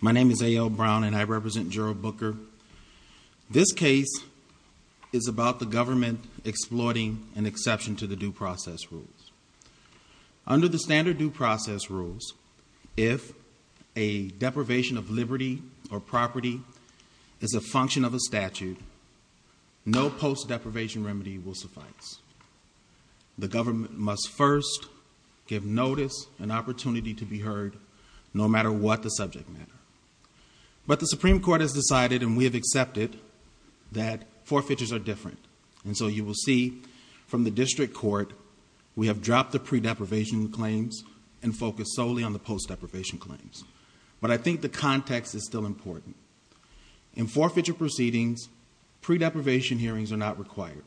My name is A.L. Brown and I represent Gerald Booker. This case is about the government exploiting an exception to the due process rules. Under the standard due process rules, if a deprivation of liberty or property is a function of a statute, no post-deprivation remedy will suffice. The government must first give notice and opportunity to be heard, no matter what the subject matter. But the Supreme Court has decided, and we have accepted, that forfeitures are different. And so you will see from the District Court we have dropped the pre-deprivation claims and focused solely on the post-deprivation claims. But I think the context is still important. In forfeiture proceedings, pre-deprivation hearings are not required.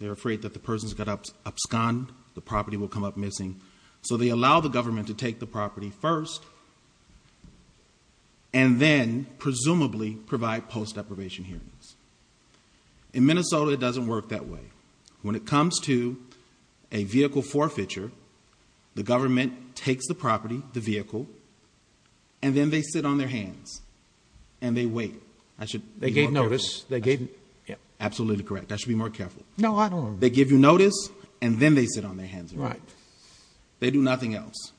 They're afraid that the person's got abscond, the property will come up missing. So they allow the government to take the property first and then, presumably, provide post-deprivation hearings. In Minnesota, it doesn't work that way. When it comes to a vehicle forfeiture, the government takes the property, the vehicle, and then they sit on their hands and they wait. Absolutely correct. I should be more careful. They give you notice, and then they sit on their hands and wait. They do nothing else.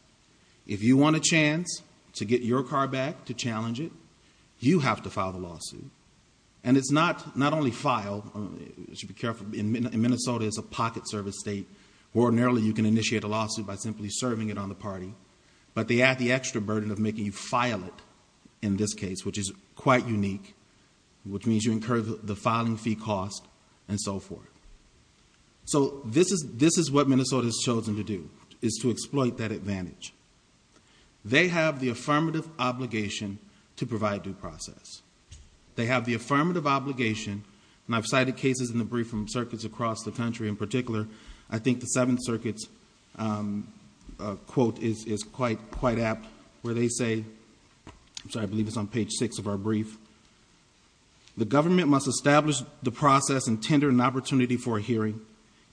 If you want a chance to get your car back to challenge it, you have to file the lawsuit. And it's not only file, you should be careful, in Minnesota it's a pocket service state. Ordinarily, you can initiate a lawsuit by simply serving it on the party. But they add the extra burden of making you file it in this case, which is quite unique, which means you incur the liability. So this is what Minnesota has chosen to do, is to exploit that advantage. They have the affirmative obligation to provide due process. They have the affirmative obligation, and I've cited cases in the brief from circuits across the country in particular. I think the Seventh Circuit's quote is quite apt, where they say, I'm sorry, I believe it's on page six of our brief, the government must establish the process and tender an opportunity for a hearing.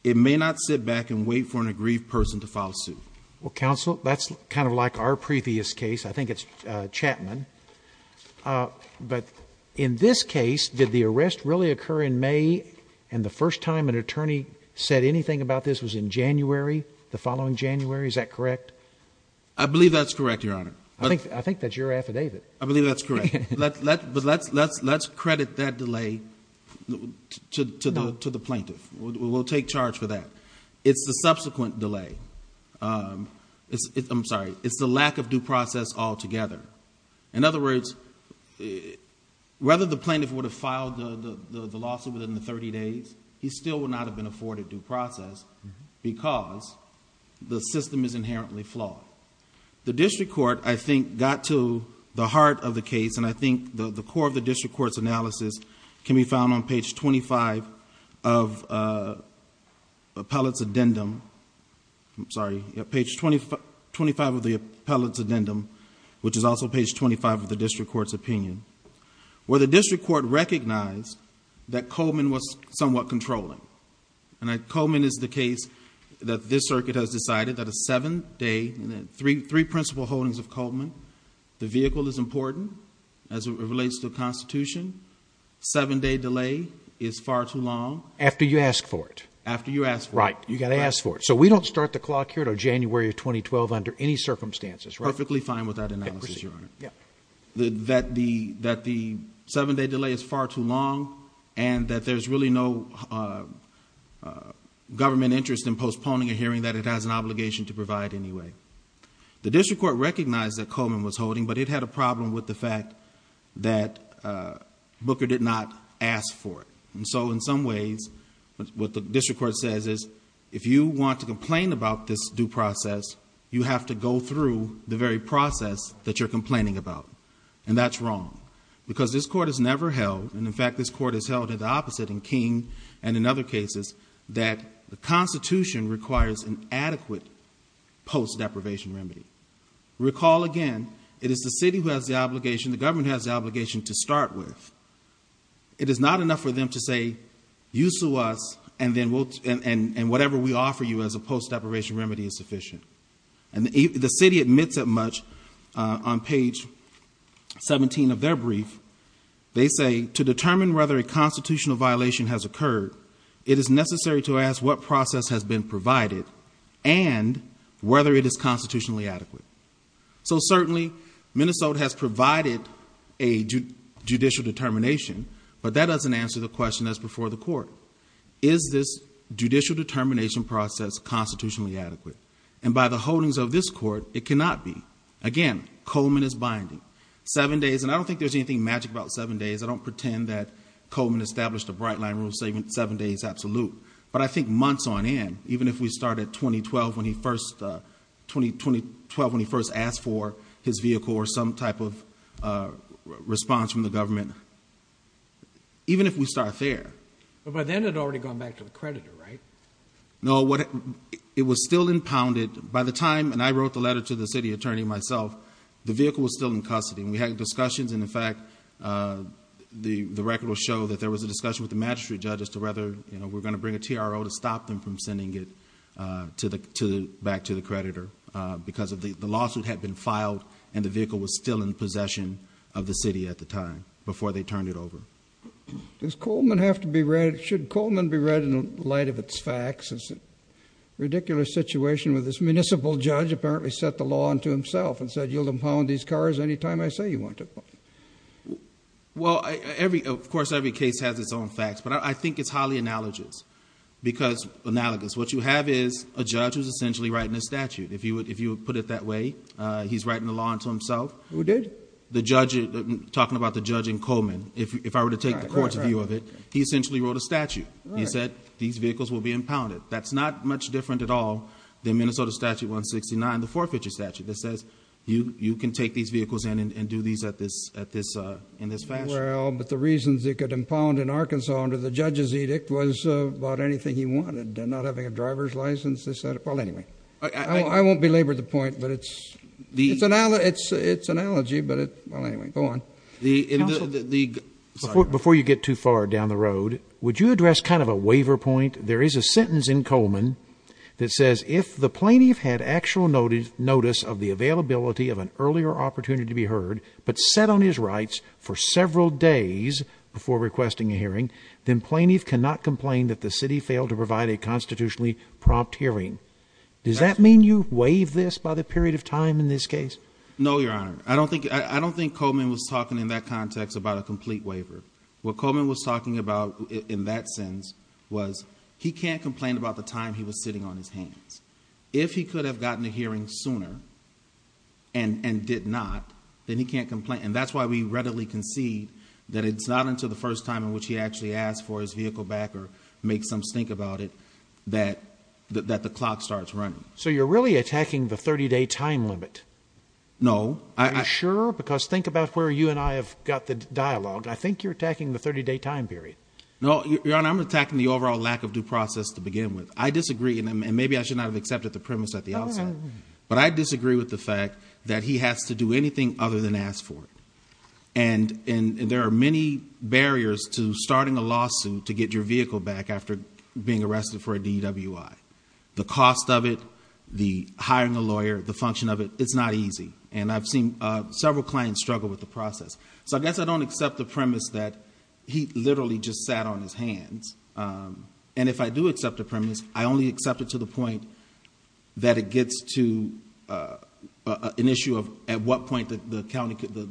It may not sit back and wait for an aggrieved person to file a suit. Well, Counsel, that's kind of like our previous case. I think it's Chapman. But in this case, did the arrest really occur in May, and the first time an attorney said anything about this was in January, the following January, is that correct? I believe that's correct, Your Honor. I think that's your affidavit. I believe that's correct. But let's credit that delay to the plaintiff. We'll take charge for that. It's the subsequent delay. I'm sorry. It's the lack of due process altogether. In other words, whether the plaintiff would have filed the lawsuit within the 30 days, he still would not have been afforded due process because the system is inherently flawed. The district court, I think, got to the heart of the case, and I think the core of the district court's analysis can be found on page 25 of the appellate's addendum. I'm sorry. Page 25 of the appellate's addendum, which is also page 25 of the district court's opinion, where the district court recognized that Coleman was somewhat controlling. Coleman is the case that this circuit has decided that a seven-day three principal holdings of Coleman. The vehicle is important as it relates to the Constitution. Seven-day delay is far too long. After you ask for it. After you ask for it. Right. You got to ask for it. So we don't start the clock here to January of 2012 under any circumstances, right? Perfectly fine with that analysis, Your Honor. That the seven-day delay is far too long and that there's really no government interest in postponing a hearing that it has an obligation to provide anyway. The district court recognized that Coleman was holding, but it had a problem with the fact that Booker did not ask for it. So in some ways, what the district court says is, if you want to complain about this due process, you have to go through the very process that you're complaining about. And that's wrong. Because this court has never held, and in fact this court has held it the opposite in King and in other cases, that the Constitution requires an adequate post-deprivation remedy. Recall again, it is the city who has the obligation, the government has the obligation to start with. It is not enough for them to say, you sue us, and whatever we offer you as a post-deprivation remedy is sufficient. And the city admits that much on page 17 of their brief. They say, to determine whether a constitutional violation has occurred, it is necessary to ask what process has been provided and whether it is constitutionally adequate. So certainly Minnesota has provided a judicial determination, but that doesn't answer the question that's before the court. Is this judicial determination process constitutionally adequate? And by the holdings of this court, it cannot be. Again, Coleman is binding. Seven days, and I don't think there's anything magic about seven days. I don't pretend that seven days is absolute, but I think months on end, even if we start at 2012 when he first asked for his vehicle or some type of response from the government, even if we start there. But by then it had already gone back to the creditor, right? No, it was still impounded. By the time, and I wrote the letter to the city attorney myself, the vehicle was still in custody so that there was a discussion with the magistrate judge as to whether we're going to bring a TRO to stop them from sending it back to the creditor because the lawsuit had been filed and the vehicle was still in possession of the city at the time before they turned it over. Should Coleman be read in light of its facts? It's a ridiculous situation where this municipal judge apparently set the law unto himself and said, you'll impound these cars any time I say you want to. Well, of course, every case has its own facts, but I think it's highly analogous because what you have is a judge who's essentially writing a statute. If you would put it that way, he's writing the law unto himself. The judge, talking about the judge and Coleman, if I were to take the court's view of it, he essentially wrote a statute. He said these vehicles will be impounded. That's not much different at all than Minnesota Statute 169, the forfeiture statute that says you can take these vehicles in and do these in this fashion. Well, but the reasons they could impound in Arkansas under the judge's edict was about anything he wanted, not having a driver's license. I won't belabor the point, but it's an analogy. Well, anyway, go on. Before you get too far down the road, would you address kind of a waiver point? There is a sentence in Coleman that says if the plaintiff had actual notice of the availability of an earlier opportunity to be heard but set on his rights for several days before requesting a hearing, then plaintiff cannot complain that the city failed to provide a constitutionally prompt hearing. Does that mean you waive this by the period of time in this case? No, Your Honor. I don't think Coleman was talking in that context about a complete waiver. What Coleman was talking about in that sense was he can't complain about the time he was sitting on his hands. If he could have gotten a hearing sooner and did not, then he can't complain. And that's why we readily concede that it's not until the first time in which he actually asks for his vehicle back or makes some stink about it that the clock starts running. So you're really attacking the 30-day time limit? No. Are you sure? Because think about where you and I have got the dialogue. I think you're attacking the 30-day time period. No, Your Honor. I'm attacking the overall lack of due process to have accepted the premise at the outset. But I disagree with the fact that he has to do anything other than ask for it. And there are many barriers to starting a lawsuit to get your vehicle back after being arrested for a DWI. The cost of it, the hiring a lawyer, the function of it, it's not easy. And I've seen several clients struggle with the process. So I guess I don't accept the premise that he literally just sat on his hands. And if I do accept the premise, I only accept it to the point that it gets to an issue of at what point the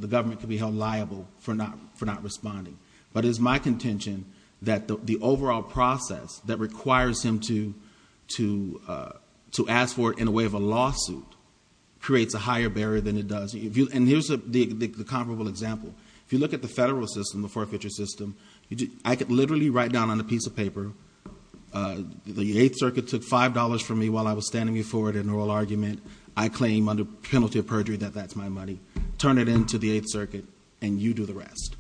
government could be held liable for not responding. But it is my contention that the overall process that requires him to ask for it in a way of a lawsuit creates a higher barrier than it does. And here's the comparable example. If you look at the federal system, the forfeiture system, I could literally write down on a piece of paper, the 8th Circuit took $5 from me while I was standing before it in an oral argument. I claim under penalty of perjury that that's my money. Turn it into the 8th Circuit and you do the rest.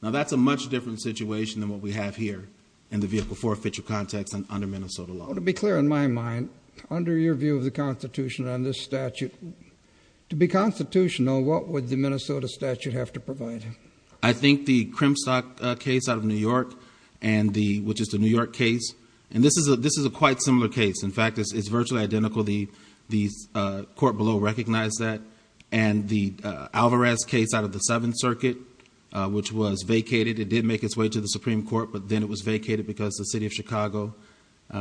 Now that's a much different situation than what we have here in the vehicle forfeiture context under Minnesota law. To be clear in my mind, under your view of the Constitution and this statute, to be constitutional, what would the Minnesota statute have to provide? I think the Crimstock case out of New York, which is the New York case, and this is a quite similar case. In fact, it's virtually identical. The court below recognized that. And the Alvarez case out of the 7th Circuit, which was vacated, it did make its way to the Supreme Court, but then it was vacated because the city of Chicago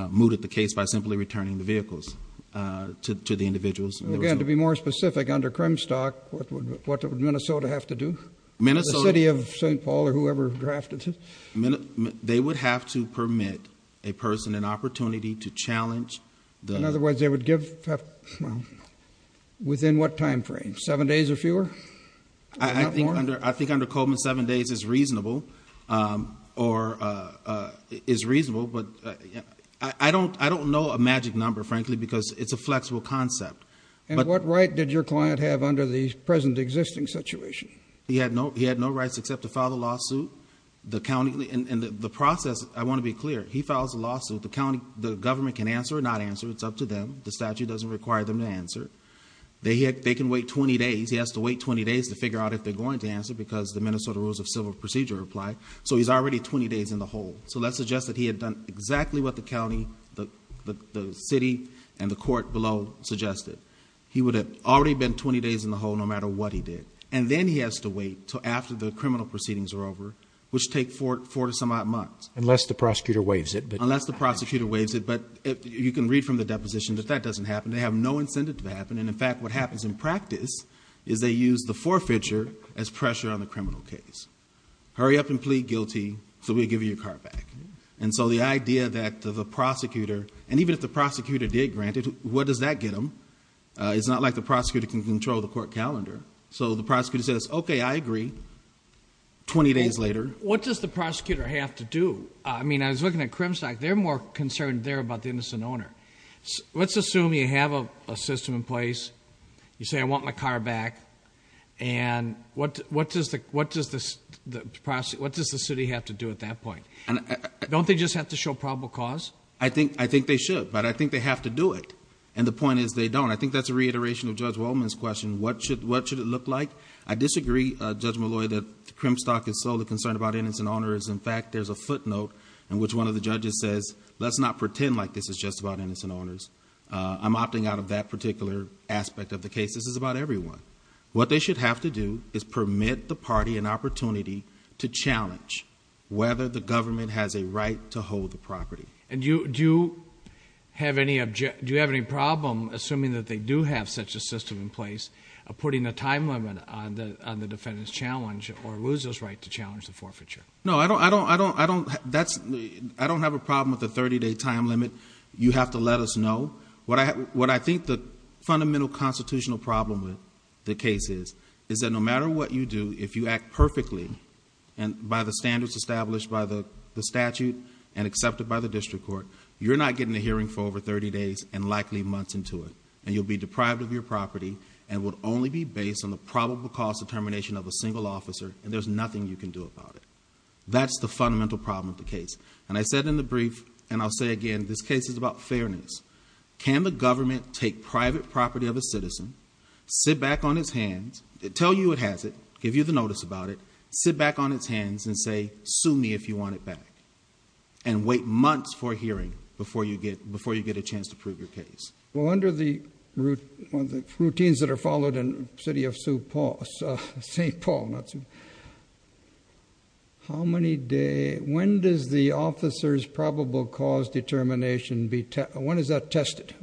mooted the case by simply returning the vehicles to the individuals. Again, to be more specific, under Crimstock, what would Minnesota have to do? The city of St. Paul or whoever drafted it? They would have to permit a person an opportunity to challenge. In other words, they would give within what time frame? Seven days or fewer? I think under Coleman, seven days is reasonable. Or is reasonable, but I don't know a magic number, frankly, because it's a flexible concept. And what right did your client have under the present existing situation? He had no rights except to file a lawsuit. And the process, I want to be clear, he files a lawsuit. The county, the government can answer or not answer. It's up to them. The statute doesn't require them to answer. They can wait 20 days. He has to wait 20 days to figure out if they're going to answer because the Minnesota Rules of Civil Procedure apply. So he's already 20 days in the hole. So let's suggest that he had done exactly what the county, the city and the court below suggested. He would have already been 20 days in the hole no matter what he did. And then he has to wait until after the criminal proceedings are over, which take four to some odd months. Unless the prosecutor waives it. Unless the prosecutor waives it. But you can read from the deposition that that doesn't happen. They have no incentive to happen. And in fact, what happens in practice is they use the forfeiture as pressure on the criminal case. Hurry up and plead guilty so we give you your car back. And so the idea that the prosecutor, and even if the prosecutor did grant it, where does that get them? It's not like the prosecutor can control the court calendar. So the prosecutor says, okay, I agree. 20 days later. What does the prosecutor have to do? I mean, I was looking at Crimsock. They're more concerned there about the innocent owner. Let's assume you have a system in place. You say, I want my car back. And what does the city have to do at that point? Don't they just have to show probable cause? I think they should. But I think they have to do it. And the point is they don't. I think that's a reiteration of Judge Waldman's question. What should it look like? I disagree, Judge Malloy, that Crimsock is solely concerned about innocent owners. In fact, there's a footnote in which one of the judges says, let's not pretend like this is just about innocent owners. I'm opting out of that particular aspect of the case. This is about everyone. What they should have to do is permit the party an opportunity to challenge whether the government has a right to hold the property. And do you have any problem assuming that they do have such a system in place of putting a time limit on the defendant's challenge or loser's right to challenge the forfeiture? No, I don't have a problem with the 30-day time limit. You have to let us know. What I think the fundamental constitutional problem with the case is, is that no matter what you do, if you act perfectly by the standards established by the District Court, you're not getting a hearing for over 30 days and likely months into it. And you'll be deprived of your property and would only be based on the probable cost determination of a single officer, and there's nothing you can do about it. That's the fundamental problem with the case. And I said in the brief, and I'll say again, this case is about fairness. Can the government take private property of a citizen, sit back on its hands, tell you it has it, give you the notice about it, sit back on its hands and say, sue me if you want it and wait months for a hearing before you get a chance to prove your case. Well, under the routines that are followed in City of St. Paul, when does the officer's probable cause determination, when is that tested?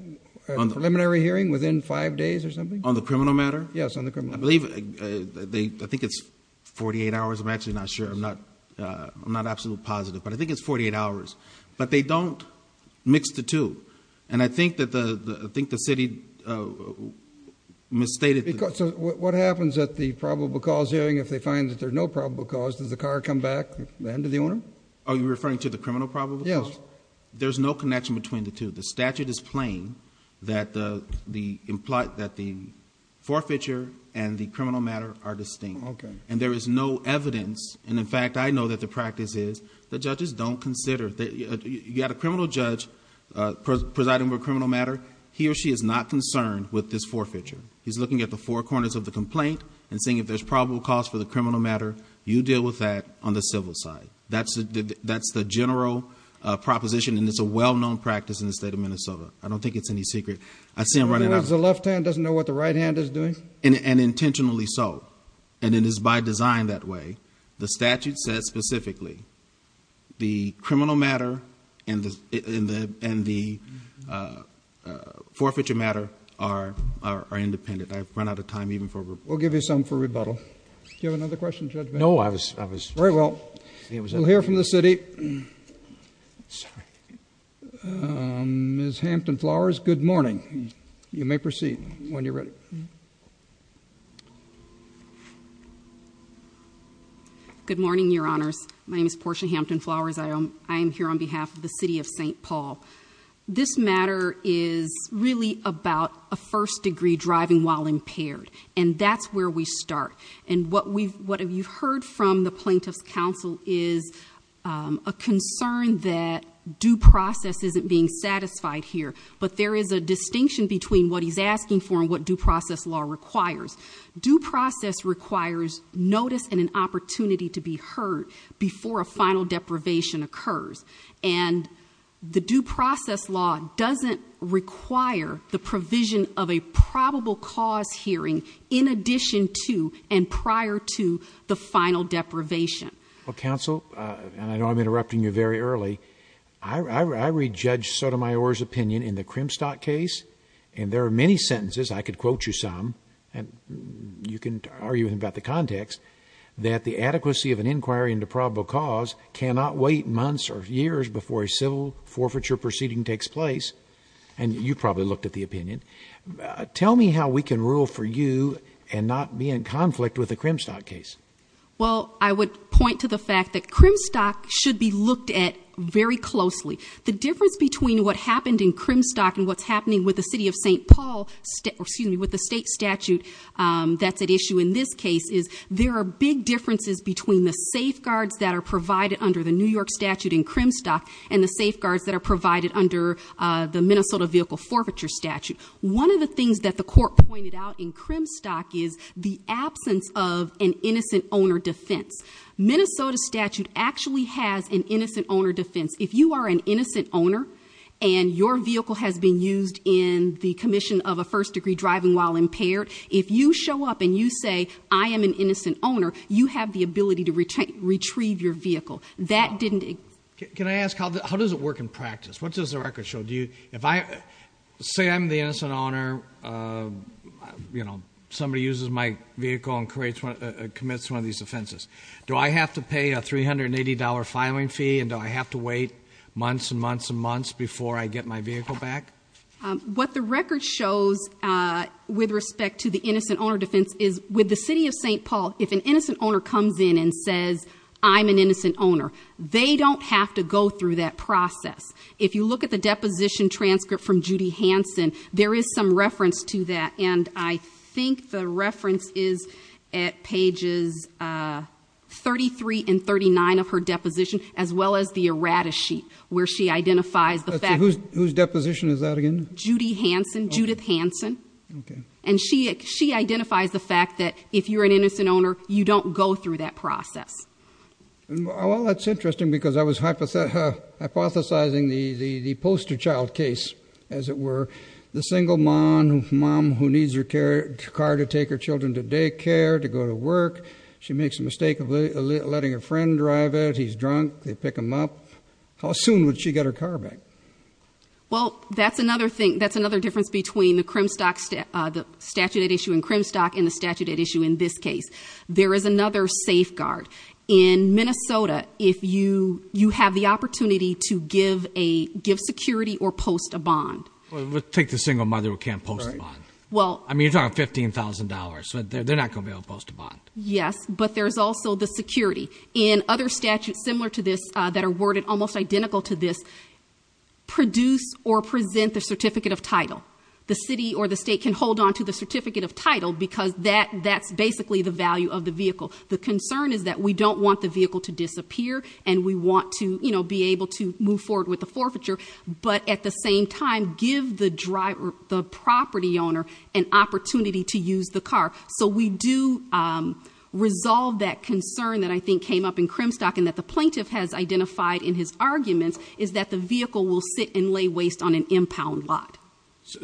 Preliminary hearing within five days or something? On the criminal matter? Yes, on the criminal matter. I think it's 48 hours. I'm actually not sure. I'm not absolutely positive, but I think it's 48 hours. But they don't mix the two. And I think the city misstated. So what happens at the probable cause hearing if they find that there's no probable cause, does the car come back to the owner? Are you referring to the criminal probable cause? Yes. There's no connection between the two. The statute is plain that the forfeiture and the criminal matter are distinct. And there is no evidence, and in fact, I know that the practice is that judges don't consider. You've got a criminal judge presiding over a criminal matter. He or she is not concerned with this forfeiture. He's looking at the four corners of the complaint and seeing if there's probable cause for the criminal matter. You deal with that on the civil side. That's the general proposition, and it's a well-known practice in the state of Minnesota. I don't think it's any secret. The left hand doesn't know what the right hand is doing? And intentionally so. And it is by design that way. The statute says specifically the criminal matter and the forfeiture matter are independent. I've run out of time even for rebuttal. We'll give you some for rebuttal. Do you have another question, Judge Bennett? No, I was... Very well. We'll hear from the city. Ms. Hampton Flowers, good morning. You may proceed when you're ready. Good morning, Your Honors. My name is Portia Hampton Flowers. I am here on behalf of the city of St. Paul. This matter is really about a first degree driving while impaired, and that's where we start. And what you've heard from the plaintiff's counsel is a concern that due process isn't being satisfied here. But there is a distinction between what he's asking for and what due process law requires. Due process requires notice and an opportunity to be heard before a final deprivation occurs. And the due process law doesn't require the provision of a probable cause hearing in addition to and prior to the final deprivation. Well, counsel, and I know I'm interrupting you very early, I would like to ask you a question on the Krimstok case. And there are many sentences, I could quote you some, and you can argue about the context, that the adequacy of an inquiry into probable cause cannot wait months or years before a civil forfeiture proceeding takes place. And you probably looked at the opinion. Tell me how we can rule for you and not be in conflict with the Krimstok case. Well, I would point to the fact that Krimstok should be looked at very closely. The difference between what happened in Krimstok and what's happening with the city of St. Paul, excuse me, with the state statute that's at issue in this case is there are big differences between the safeguards that are provided under the New York statute in Krimstok and the safeguards that are provided under the Minnesota vehicle forfeiture statute. One of the things that the court pointed out in Krimstok is the absence of an innocent owner defense. Minnesota statute actually has an innocent owner defense. If you are an innocent owner and your vehicle has been used in the commission of a first degree driving while impaired, if you show up and you say, I am an innocent owner, you have the ability to retrieve your vehicle. That didn't exist. Can I ask, how does it work in practice? What does the record show? Say I'm the innocent owner, you know, somebody uses my vehicle and commits one of these offenses. Do I have to pay a $380 filing fee and do I have to wait months and months and months before I get my vehicle back? What the record shows with respect to the innocent owner defense is with the city of St. Paul, if an innocent owner comes in and says, I'm an innocent owner, they don't have to go through that process. If you look at the deposition transcript from Judy Hansen, there is some reference to that and I think the reference is at pages 33 and 39 of her deposition as well as the errata sheet where she identifies the fact... Whose deposition is that again? Judy Hansen, Judith Hansen. And she identifies the fact that if you're an innocent owner, you don't go through that process. Well, that's interesting because I was hypothesizing the poster child case, as it were. The single mom who needs her car to take her children to work. She makes the mistake of letting her friend drive it. He's drunk. They pick him up. How soon would she get her car back? Well, that's another thing. That's another difference between the statute at issue in Crimstock and the statute at issue in this case. There is another safeguard. In Minnesota, if you have the opportunity to give security or post a bond. Well, take the single mother who can't post a bond. I mean, you're talking $15,000. They're not going to be able to post a bond. Yes, but there's also the security. In other statutes similar to this that are worded almost identical to this, produce or present the certificate of title. The city or the state can hold on to the certificate of title because that's basically the value of the vehicle. The concern is that we don't want the vehicle to disappear and we want to be able to move forward with the forfeiture. But at the same time, give the property owner an opportunity to use the car. So we do resolve that concern that I think came up in Crimstock and that the plaintiff has identified in his arguments is that the vehicle will sit and lay waste on an impound lot.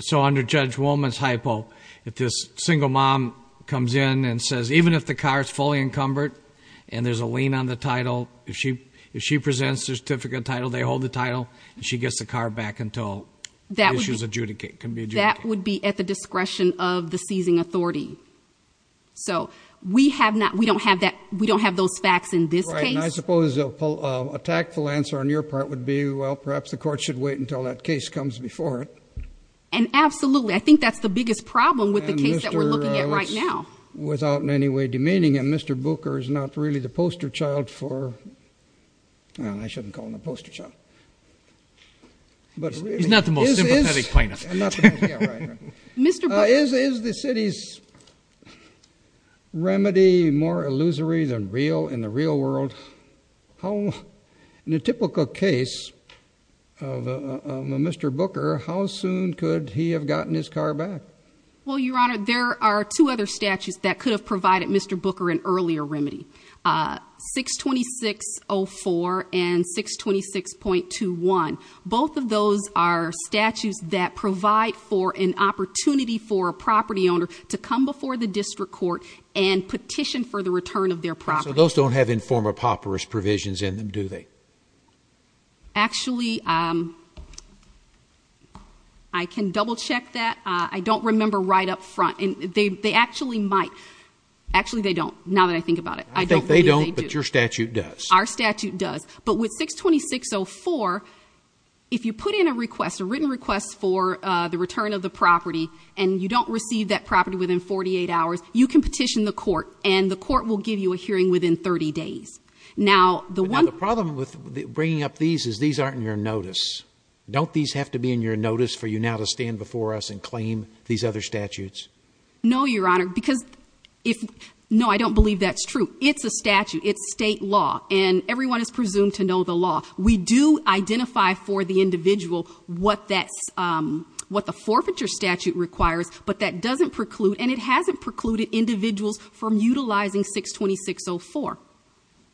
So under Judge Woolman's hypo, if this single mom comes in and says, even if the car is fully encumbered and there's a lien on the title, if she presents the certificate of title, they hold the title and she gets the car back until the issue is resolved. That would be at the discretion of the seizing authority. So we don't have those facts in this case. I suppose an attackful answer on your part would be, well, perhaps the court should wait until that case comes before it. And absolutely. I think that's the biggest problem with the case that we're looking at right now. Without in any way demeaning him, Mr. Booker is not really the poster child for well, I shouldn't call him a poster child. He's not the most sympathetic plaintiff. Is the city's remedy more illusory than real in the real world? In a typical case of Mr. Booker, how soon could he have gotten his car back? Well, Your Honor, there are two other statutes that could have provided Mr. Booker an earlier remedy. 626.04 and 626.21. Both of those are statutes that provide for an opportunity for a property owner to come before the district court and petition for the return of their property. So those don't have informer paupers provisions in them, do they? Actually, I can double check that. I don't remember right up front. They actually might. Actually, they don't, now that I think about it. I think they don't, but your statute does. Our statute does. But with 626.04, if you put in a written request for the return of the property and you don't receive that property within 48 hours, you can petition the court and the court will give you a hearing within 30 days. Now, the problem with bringing up these is these aren't in your notice. Don't these have to be in your notice for you now to stand before us and claim these other statutes? No, Your Honor, because no, I don't believe that's true. It's a statute. It's state law, and everyone is presumed to know the law. We do identify for the individual what the forfeiture statute requires, but that doesn't preclude, and it hasn't precluded individuals from utilizing 626.04.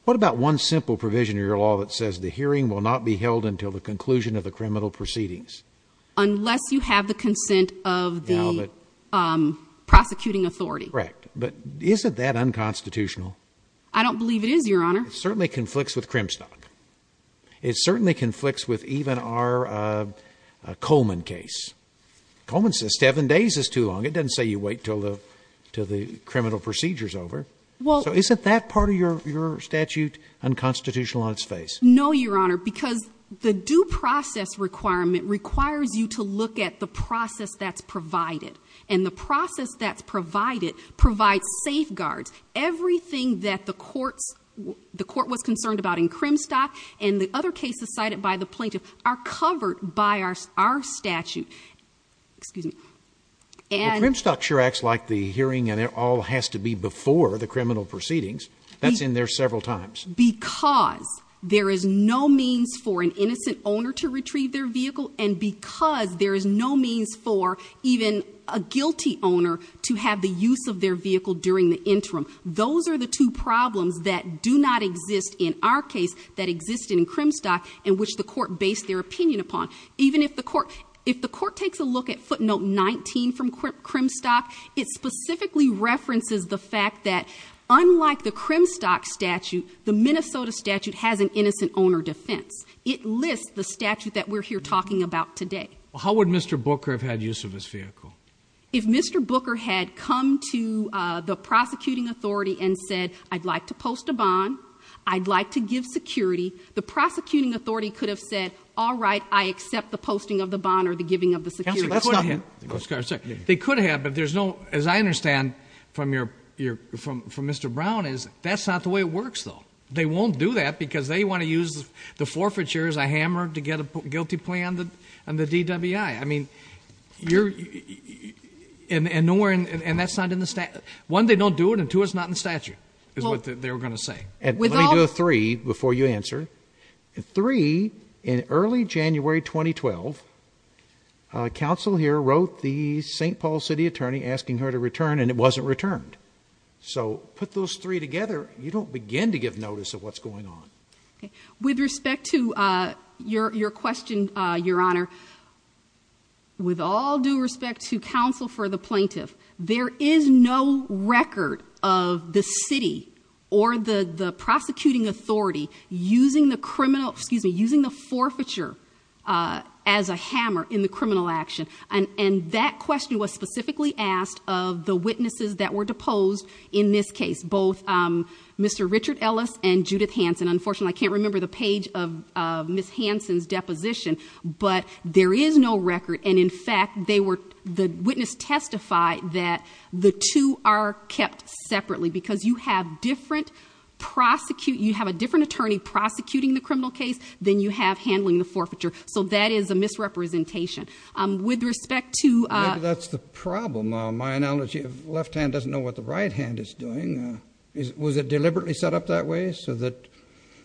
What about one simple provision in your law that says the hearing will not be held until the conclusion of the criminal proceedings? Unless you have the consent of the prosecuting authority. Correct. But isn't that unconstitutional? I don't believe it is, Your Honor. It certainly conflicts with Crimstock. It certainly conflicts with even our Coleman case. Coleman says seven days is too long. It doesn't say you wait until the criminal procedure is over. So isn't that part of your statute unconstitutional on its face? No, Your Honor, because the due process requirement requires you to look at the process that's provided, provide safeguards. Everything that the court was concerned about in Crimstock and the other cases cited by the plaintiff are covered by our statute. The Crimstock sure acts like the hearing all has to be before the criminal proceedings. That's in there several times. Because there is no means for an innocent owner to retrieve their vehicle, and because there is no means for even a guilty owner to have the use of their vehicle during the interim. Those are the two problems that do not exist in our case that exist in Crimstock and which the court based their opinion upon. Even if the court takes a look at footnote 19 from Crimstock, it specifically references the fact that unlike the Crimstock statute, the Minnesota statute has an innocent owner defense. It lists the statute that we're here talking about today. How would Mr. Booker have had use of his vehicle? If Mr. Booker had come to the prosecuting authority and said, I'd like to post a bond, I'd like to give security, the prosecuting authority could have said, all right, I accept the posting of the bond or the giving of the security. They could have, but there's no, as I understand from Mr. Brown, that's not the way it works though. They won't do that because they want to use the forfeiture as a hammer to get a guilty plea on the DWI. And that's not in the statute. One, they don't do it and two, it's not in the statute is what they were going to say. Let me do a three before you answer. Three, in early January 2012, counsel here wrote the St. Paul City Attorney asking her to return and it wasn't returned. So put those three together, you don't begin to give notice of what's going on. With respect to your question, Your Honor, with all due respect to counsel for the plaintiff, there is no record of the city or the prosecuting authority using the criminal, excuse me, using the forfeiture as a hammer in the criminal action. And that question was specifically asked of the witnesses that were deposed in this case, both Mr. Richard Ellis and Judith Hanson. Unfortunately, I can't remember the page of Ms. Hanson's deposition, but there is no record and in fact they were, the witness testified that the two are kept separately because you have different prosecute, you have a different attorney prosecuting the criminal case than you have handling the forfeiture. So that is a misrepresentation. With respect to... That's the problem. My analogy of left hand doesn't know what the right hand is doing. Was it deliberately set up that way so that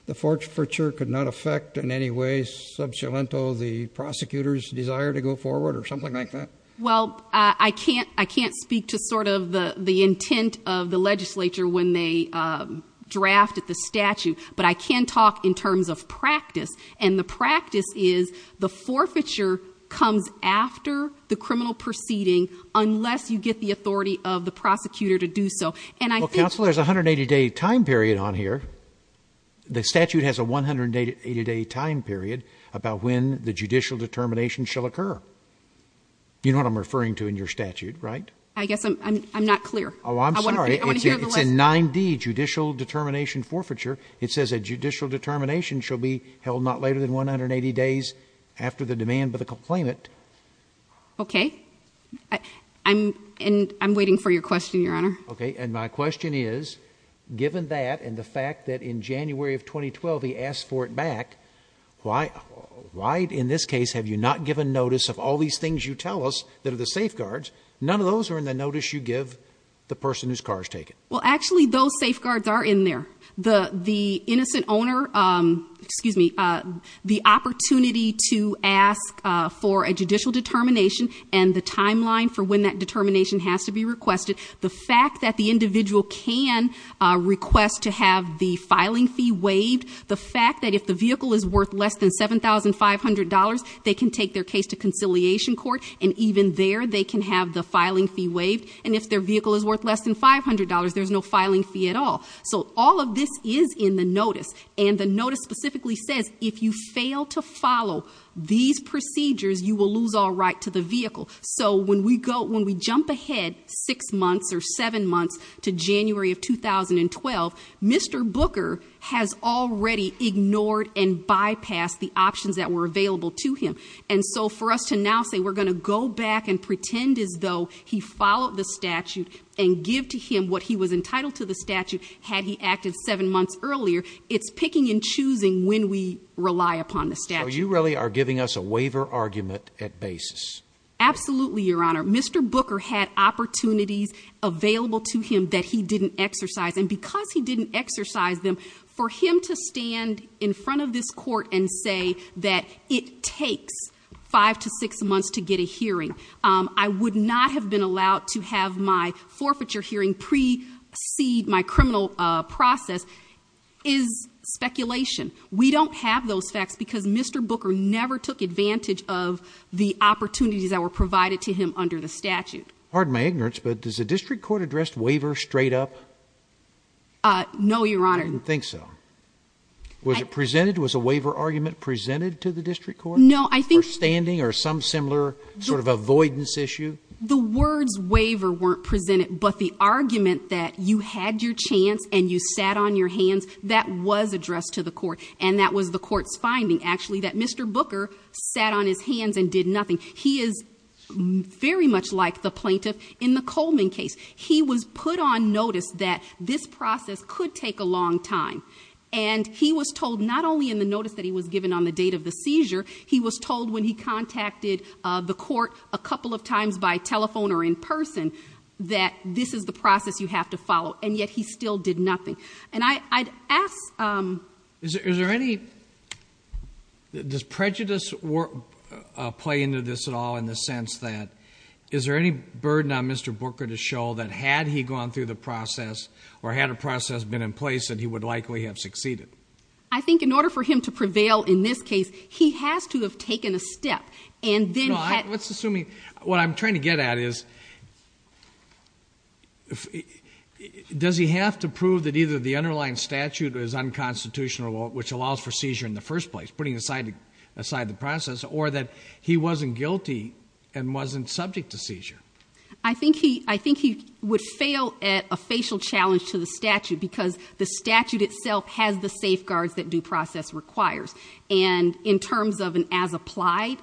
the forfeiture could not affect in any way the prosecutor's desire to go forward or something like that? Well, I can't speak to sort of the intent of the legislature when they draft the statute, but I can talk in terms of practice. And the practice is the forfeiture comes after the criminal proceeding unless you get the authority of the prosecutor to do so. And I think... Well, Counselor, there's a 180 day time period on here. The statute has a 180 day time period about when the judicial determination shall occur. You know what I'm referring to in your statute, right? I guess I'm not clear. Oh, I'm sorry. It's a 9D judicial determination forfeiture. It says a judicial determination shall be held not later than 180 days after the demand by the complainant. Okay. I'm waiting for your question, Your Honor. Okay. And my question is, given that and the fact that in January of 2012 he asked for it back, why in this case have you not given notice of all these things you tell us that are the safeguards? None of those are in the notice you give the person whose car is taken. Well, actually, those safeguards are in there. The innocent owner... Excuse me. The opportunity to ask for a judicial determination and the timeline for when that determination has to be requested. The fact that the individual can request to have the filing fee waived. The fact that if the vehicle is worth less than $7,500, they can take their case to conciliation court. And even there, they can have the filing fee waived. And if their vehicle is worth less than $500, there's no filing fee at all. So all of this is in the notice. And the notice specifically says if you fail to follow these procedures, you will lose all right to the vehicle. So when we jump ahead six months or seven months to January of 2012, Mr. Booker has already ignored and bypassed the options that were available to him. And so for us to now say we're going to go back and pretend as though he followed the statute and give to him what he was entitled to the statute had he acted seven months earlier, it's picking and choosing when we rely upon the statute. So you really are giving us a waiver argument at basis. Absolutely, Your Honor. Mr. Booker had opportunities available to him that he didn't exercise. And because he didn't exercise them, for him to stand in front of this court and say that it takes five to six months to get a hearing. I would not have been allowed to have my forfeiture hearing precede my criminal process is speculation. We don't have those facts because Mr. Booker never took advantage of the opportunities that were provided to him under the statute. Pardon my ignorance, but does the district court address waiver straight up? No, Your Honor. I didn't think so. Was it presented? Was a waiver argument presented to the district court? No, I think. For standing or some similar sort of avoidance issue? The words waiver weren't presented, but the argument that you had your chance and you sat on your hands, that was addressed to the court. And that was the court's finding, actually, that Mr. Booker sat on his hands and did nothing. He is very much like the plaintiff in the Coleman case. He was put on notice that this process could take a long time. And he was told not only in the notice that he was given on the date of the seizure, he was told when he contacted the court a couple of times by telephone or in person that this is the process you have to follow. And yet he still did nothing. I'd ask... Does prejudice play into this at all in the sense that is there any burden on Mr. Booker to show that had he gone through the process or had a process been in place that he would likely have succeeded? I think in order for him to prevail in this case, he has to have taken a step. Let's assume, what I'm trying to get at is does he have to prove that either the underlying statute is unconstitutional, which allows for seizure in the first place, putting aside the process, or that he wasn't guilty and wasn't subject to seizure? I think he would fail at a facial challenge to the statute because the statute itself has the safeguards that due process requires. And in terms of an as applied...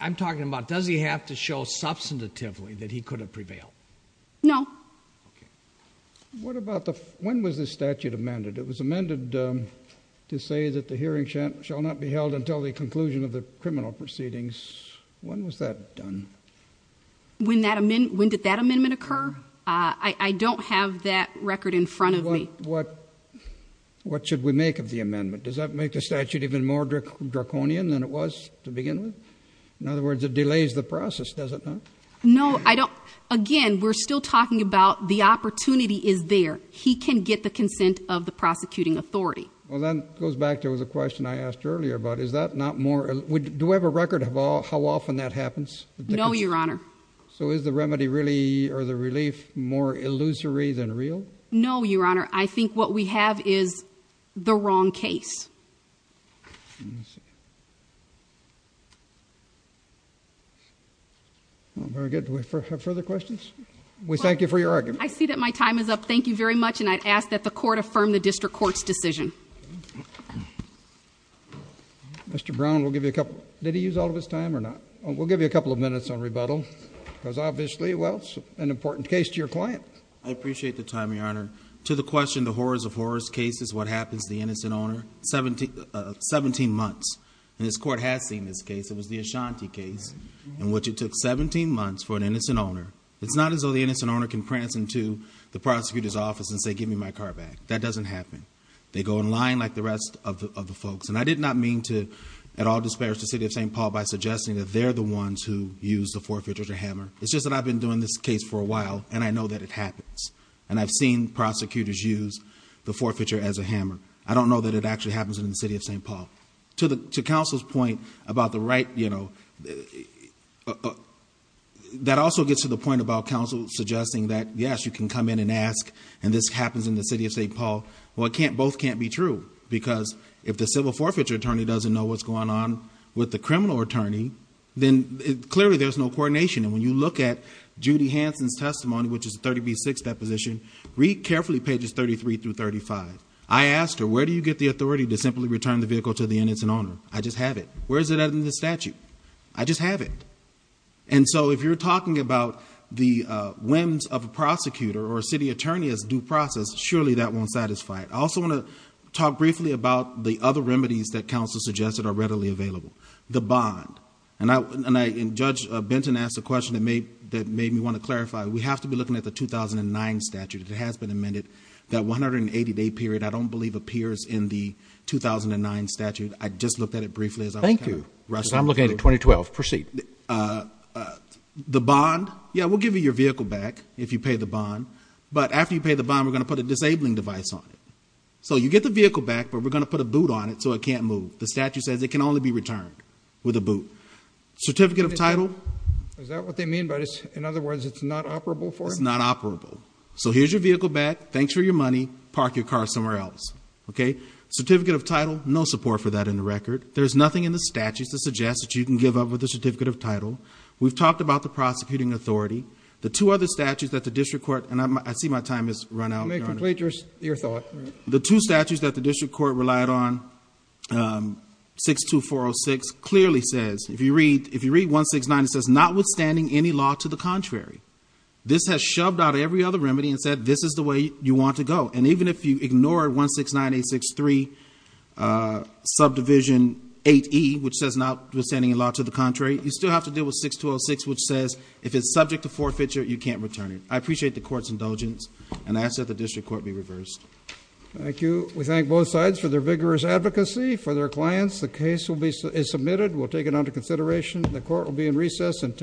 I'm talking about does he have to show substantively that he could have prevailed? No. When was this statute amended? It was amended to say that the hearing shall not be held until the conclusion of the criminal proceedings. When was that done? When did that amendment occur? I don't have that record in front of me. What should we make of the amendment? Does that make the statute even more draconian than it was to begin with? In other words, it delays the process, does it not? No, I don't... Again, we're still talking about the opportunity is there. He can get the consent of the prosecuting authority. Well, that goes back to the question I asked earlier about is that not more... Do we have a record of how often that happens? No, Your Honor. So is the remedy really, or the relief, more illusory than real? No, Your Honor. I think what we have is the wrong case. I see. Very good. Do we have further questions? We thank you for your argument. I see that my time is up. Thank you very much, and I'd ask that the Court affirm the District Court's decision. Mr. Brown, we'll give you a couple... Did he use all of his time or not? We'll give you a couple of minutes on rebuttal, because obviously, well, it's an important case to your client. I appreciate the time, Your Honor. To the question, the horrors of horrors cases, what happens to the innocent owner? 17 months. And this Court has seen this case. It was the Ashanti case, in which it took 17 months for an innocent owner. It's not as though the innocent owner can prance into the prosecutor's office and say, give me my car back. That doesn't happen. They go in line like the rest of the folks. And I did not mean to at all disparage the City of St. Paul by suggesting that they're the ones who use the forfeiture as a hammer. It's just that I've been doing this case for a while, and I know that it happens. And I've seen prosecutors use the forfeiture as a hammer. I don't know that it actually happens in the City of St. Paul. To counsel's point about the right... That also gets to the point about counsel suggesting that, yes, you can come in and ask, and this happens in the City of St. Paul. Well, both can't be true, because if the civil forfeiture attorney doesn't know what's going on with the criminal attorney, then clearly there's no coordination. And when you look at Judy Hansen's testimony, which is a 30B6 deposition, read carefully pages 33-35. I asked her, where do you get the authority to simply return the vehicle to the innocent owner? I just have it. Where is it in the statute? I just have it. And so if you're talking about the whims of a prosecutor or a city attorney as due process, surely that won't satisfy it. I also want to talk briefly about the other remedies that counsel suggested are readily available. The bond. And Judge Benton asked a question that made me want to look at the 2009 statute. It has been amended. That 180-day period, I don't believe, appears in the 2009 statute. I just looked at it briefly. Thank you. Because I'm looking at 2012. Proceed. The bond. Yeah, we'll give you your vehicle back if you pay the bond. But after you pay the bond, we're going to put a disabling device on it. So you get the vehicle back, but we're going to put a boot on it so it can't move. The statute says it can only be returned with a boot. Certificate of title. Is that what they mean? In other words, it's not operable for it? It's not operable. So here's your vehicle back. Thanks for your money. Park your car somewhere else. Okay? Certificate of title, no support for that in the record. There's nothing in the statute that suggests that you can give up with a certificate of title. We've talked about the prosecuting authority. The two other statutes that the district court, and I see my time has run out. Let me complete your thought. The two statutes that the district court relied on, 62406, clearly says if you read 169, it says notwithstanding any law to the contrary. This has shoved out every other remedy and said this is the way you want to go. And even if you ignore 169863 subdivision 8E, which says notwithstanding any law to the contrary, you still have to deal with 6206, which says if it's subject to forfeiture, you can't return it. I appreciate the court's indulgence, and I ask that the district court be reversed. Thank you. We thank both sides for their vigorous advocacy, for their clients. The case is submitted. We'll take it under consideration. The court will be in recess until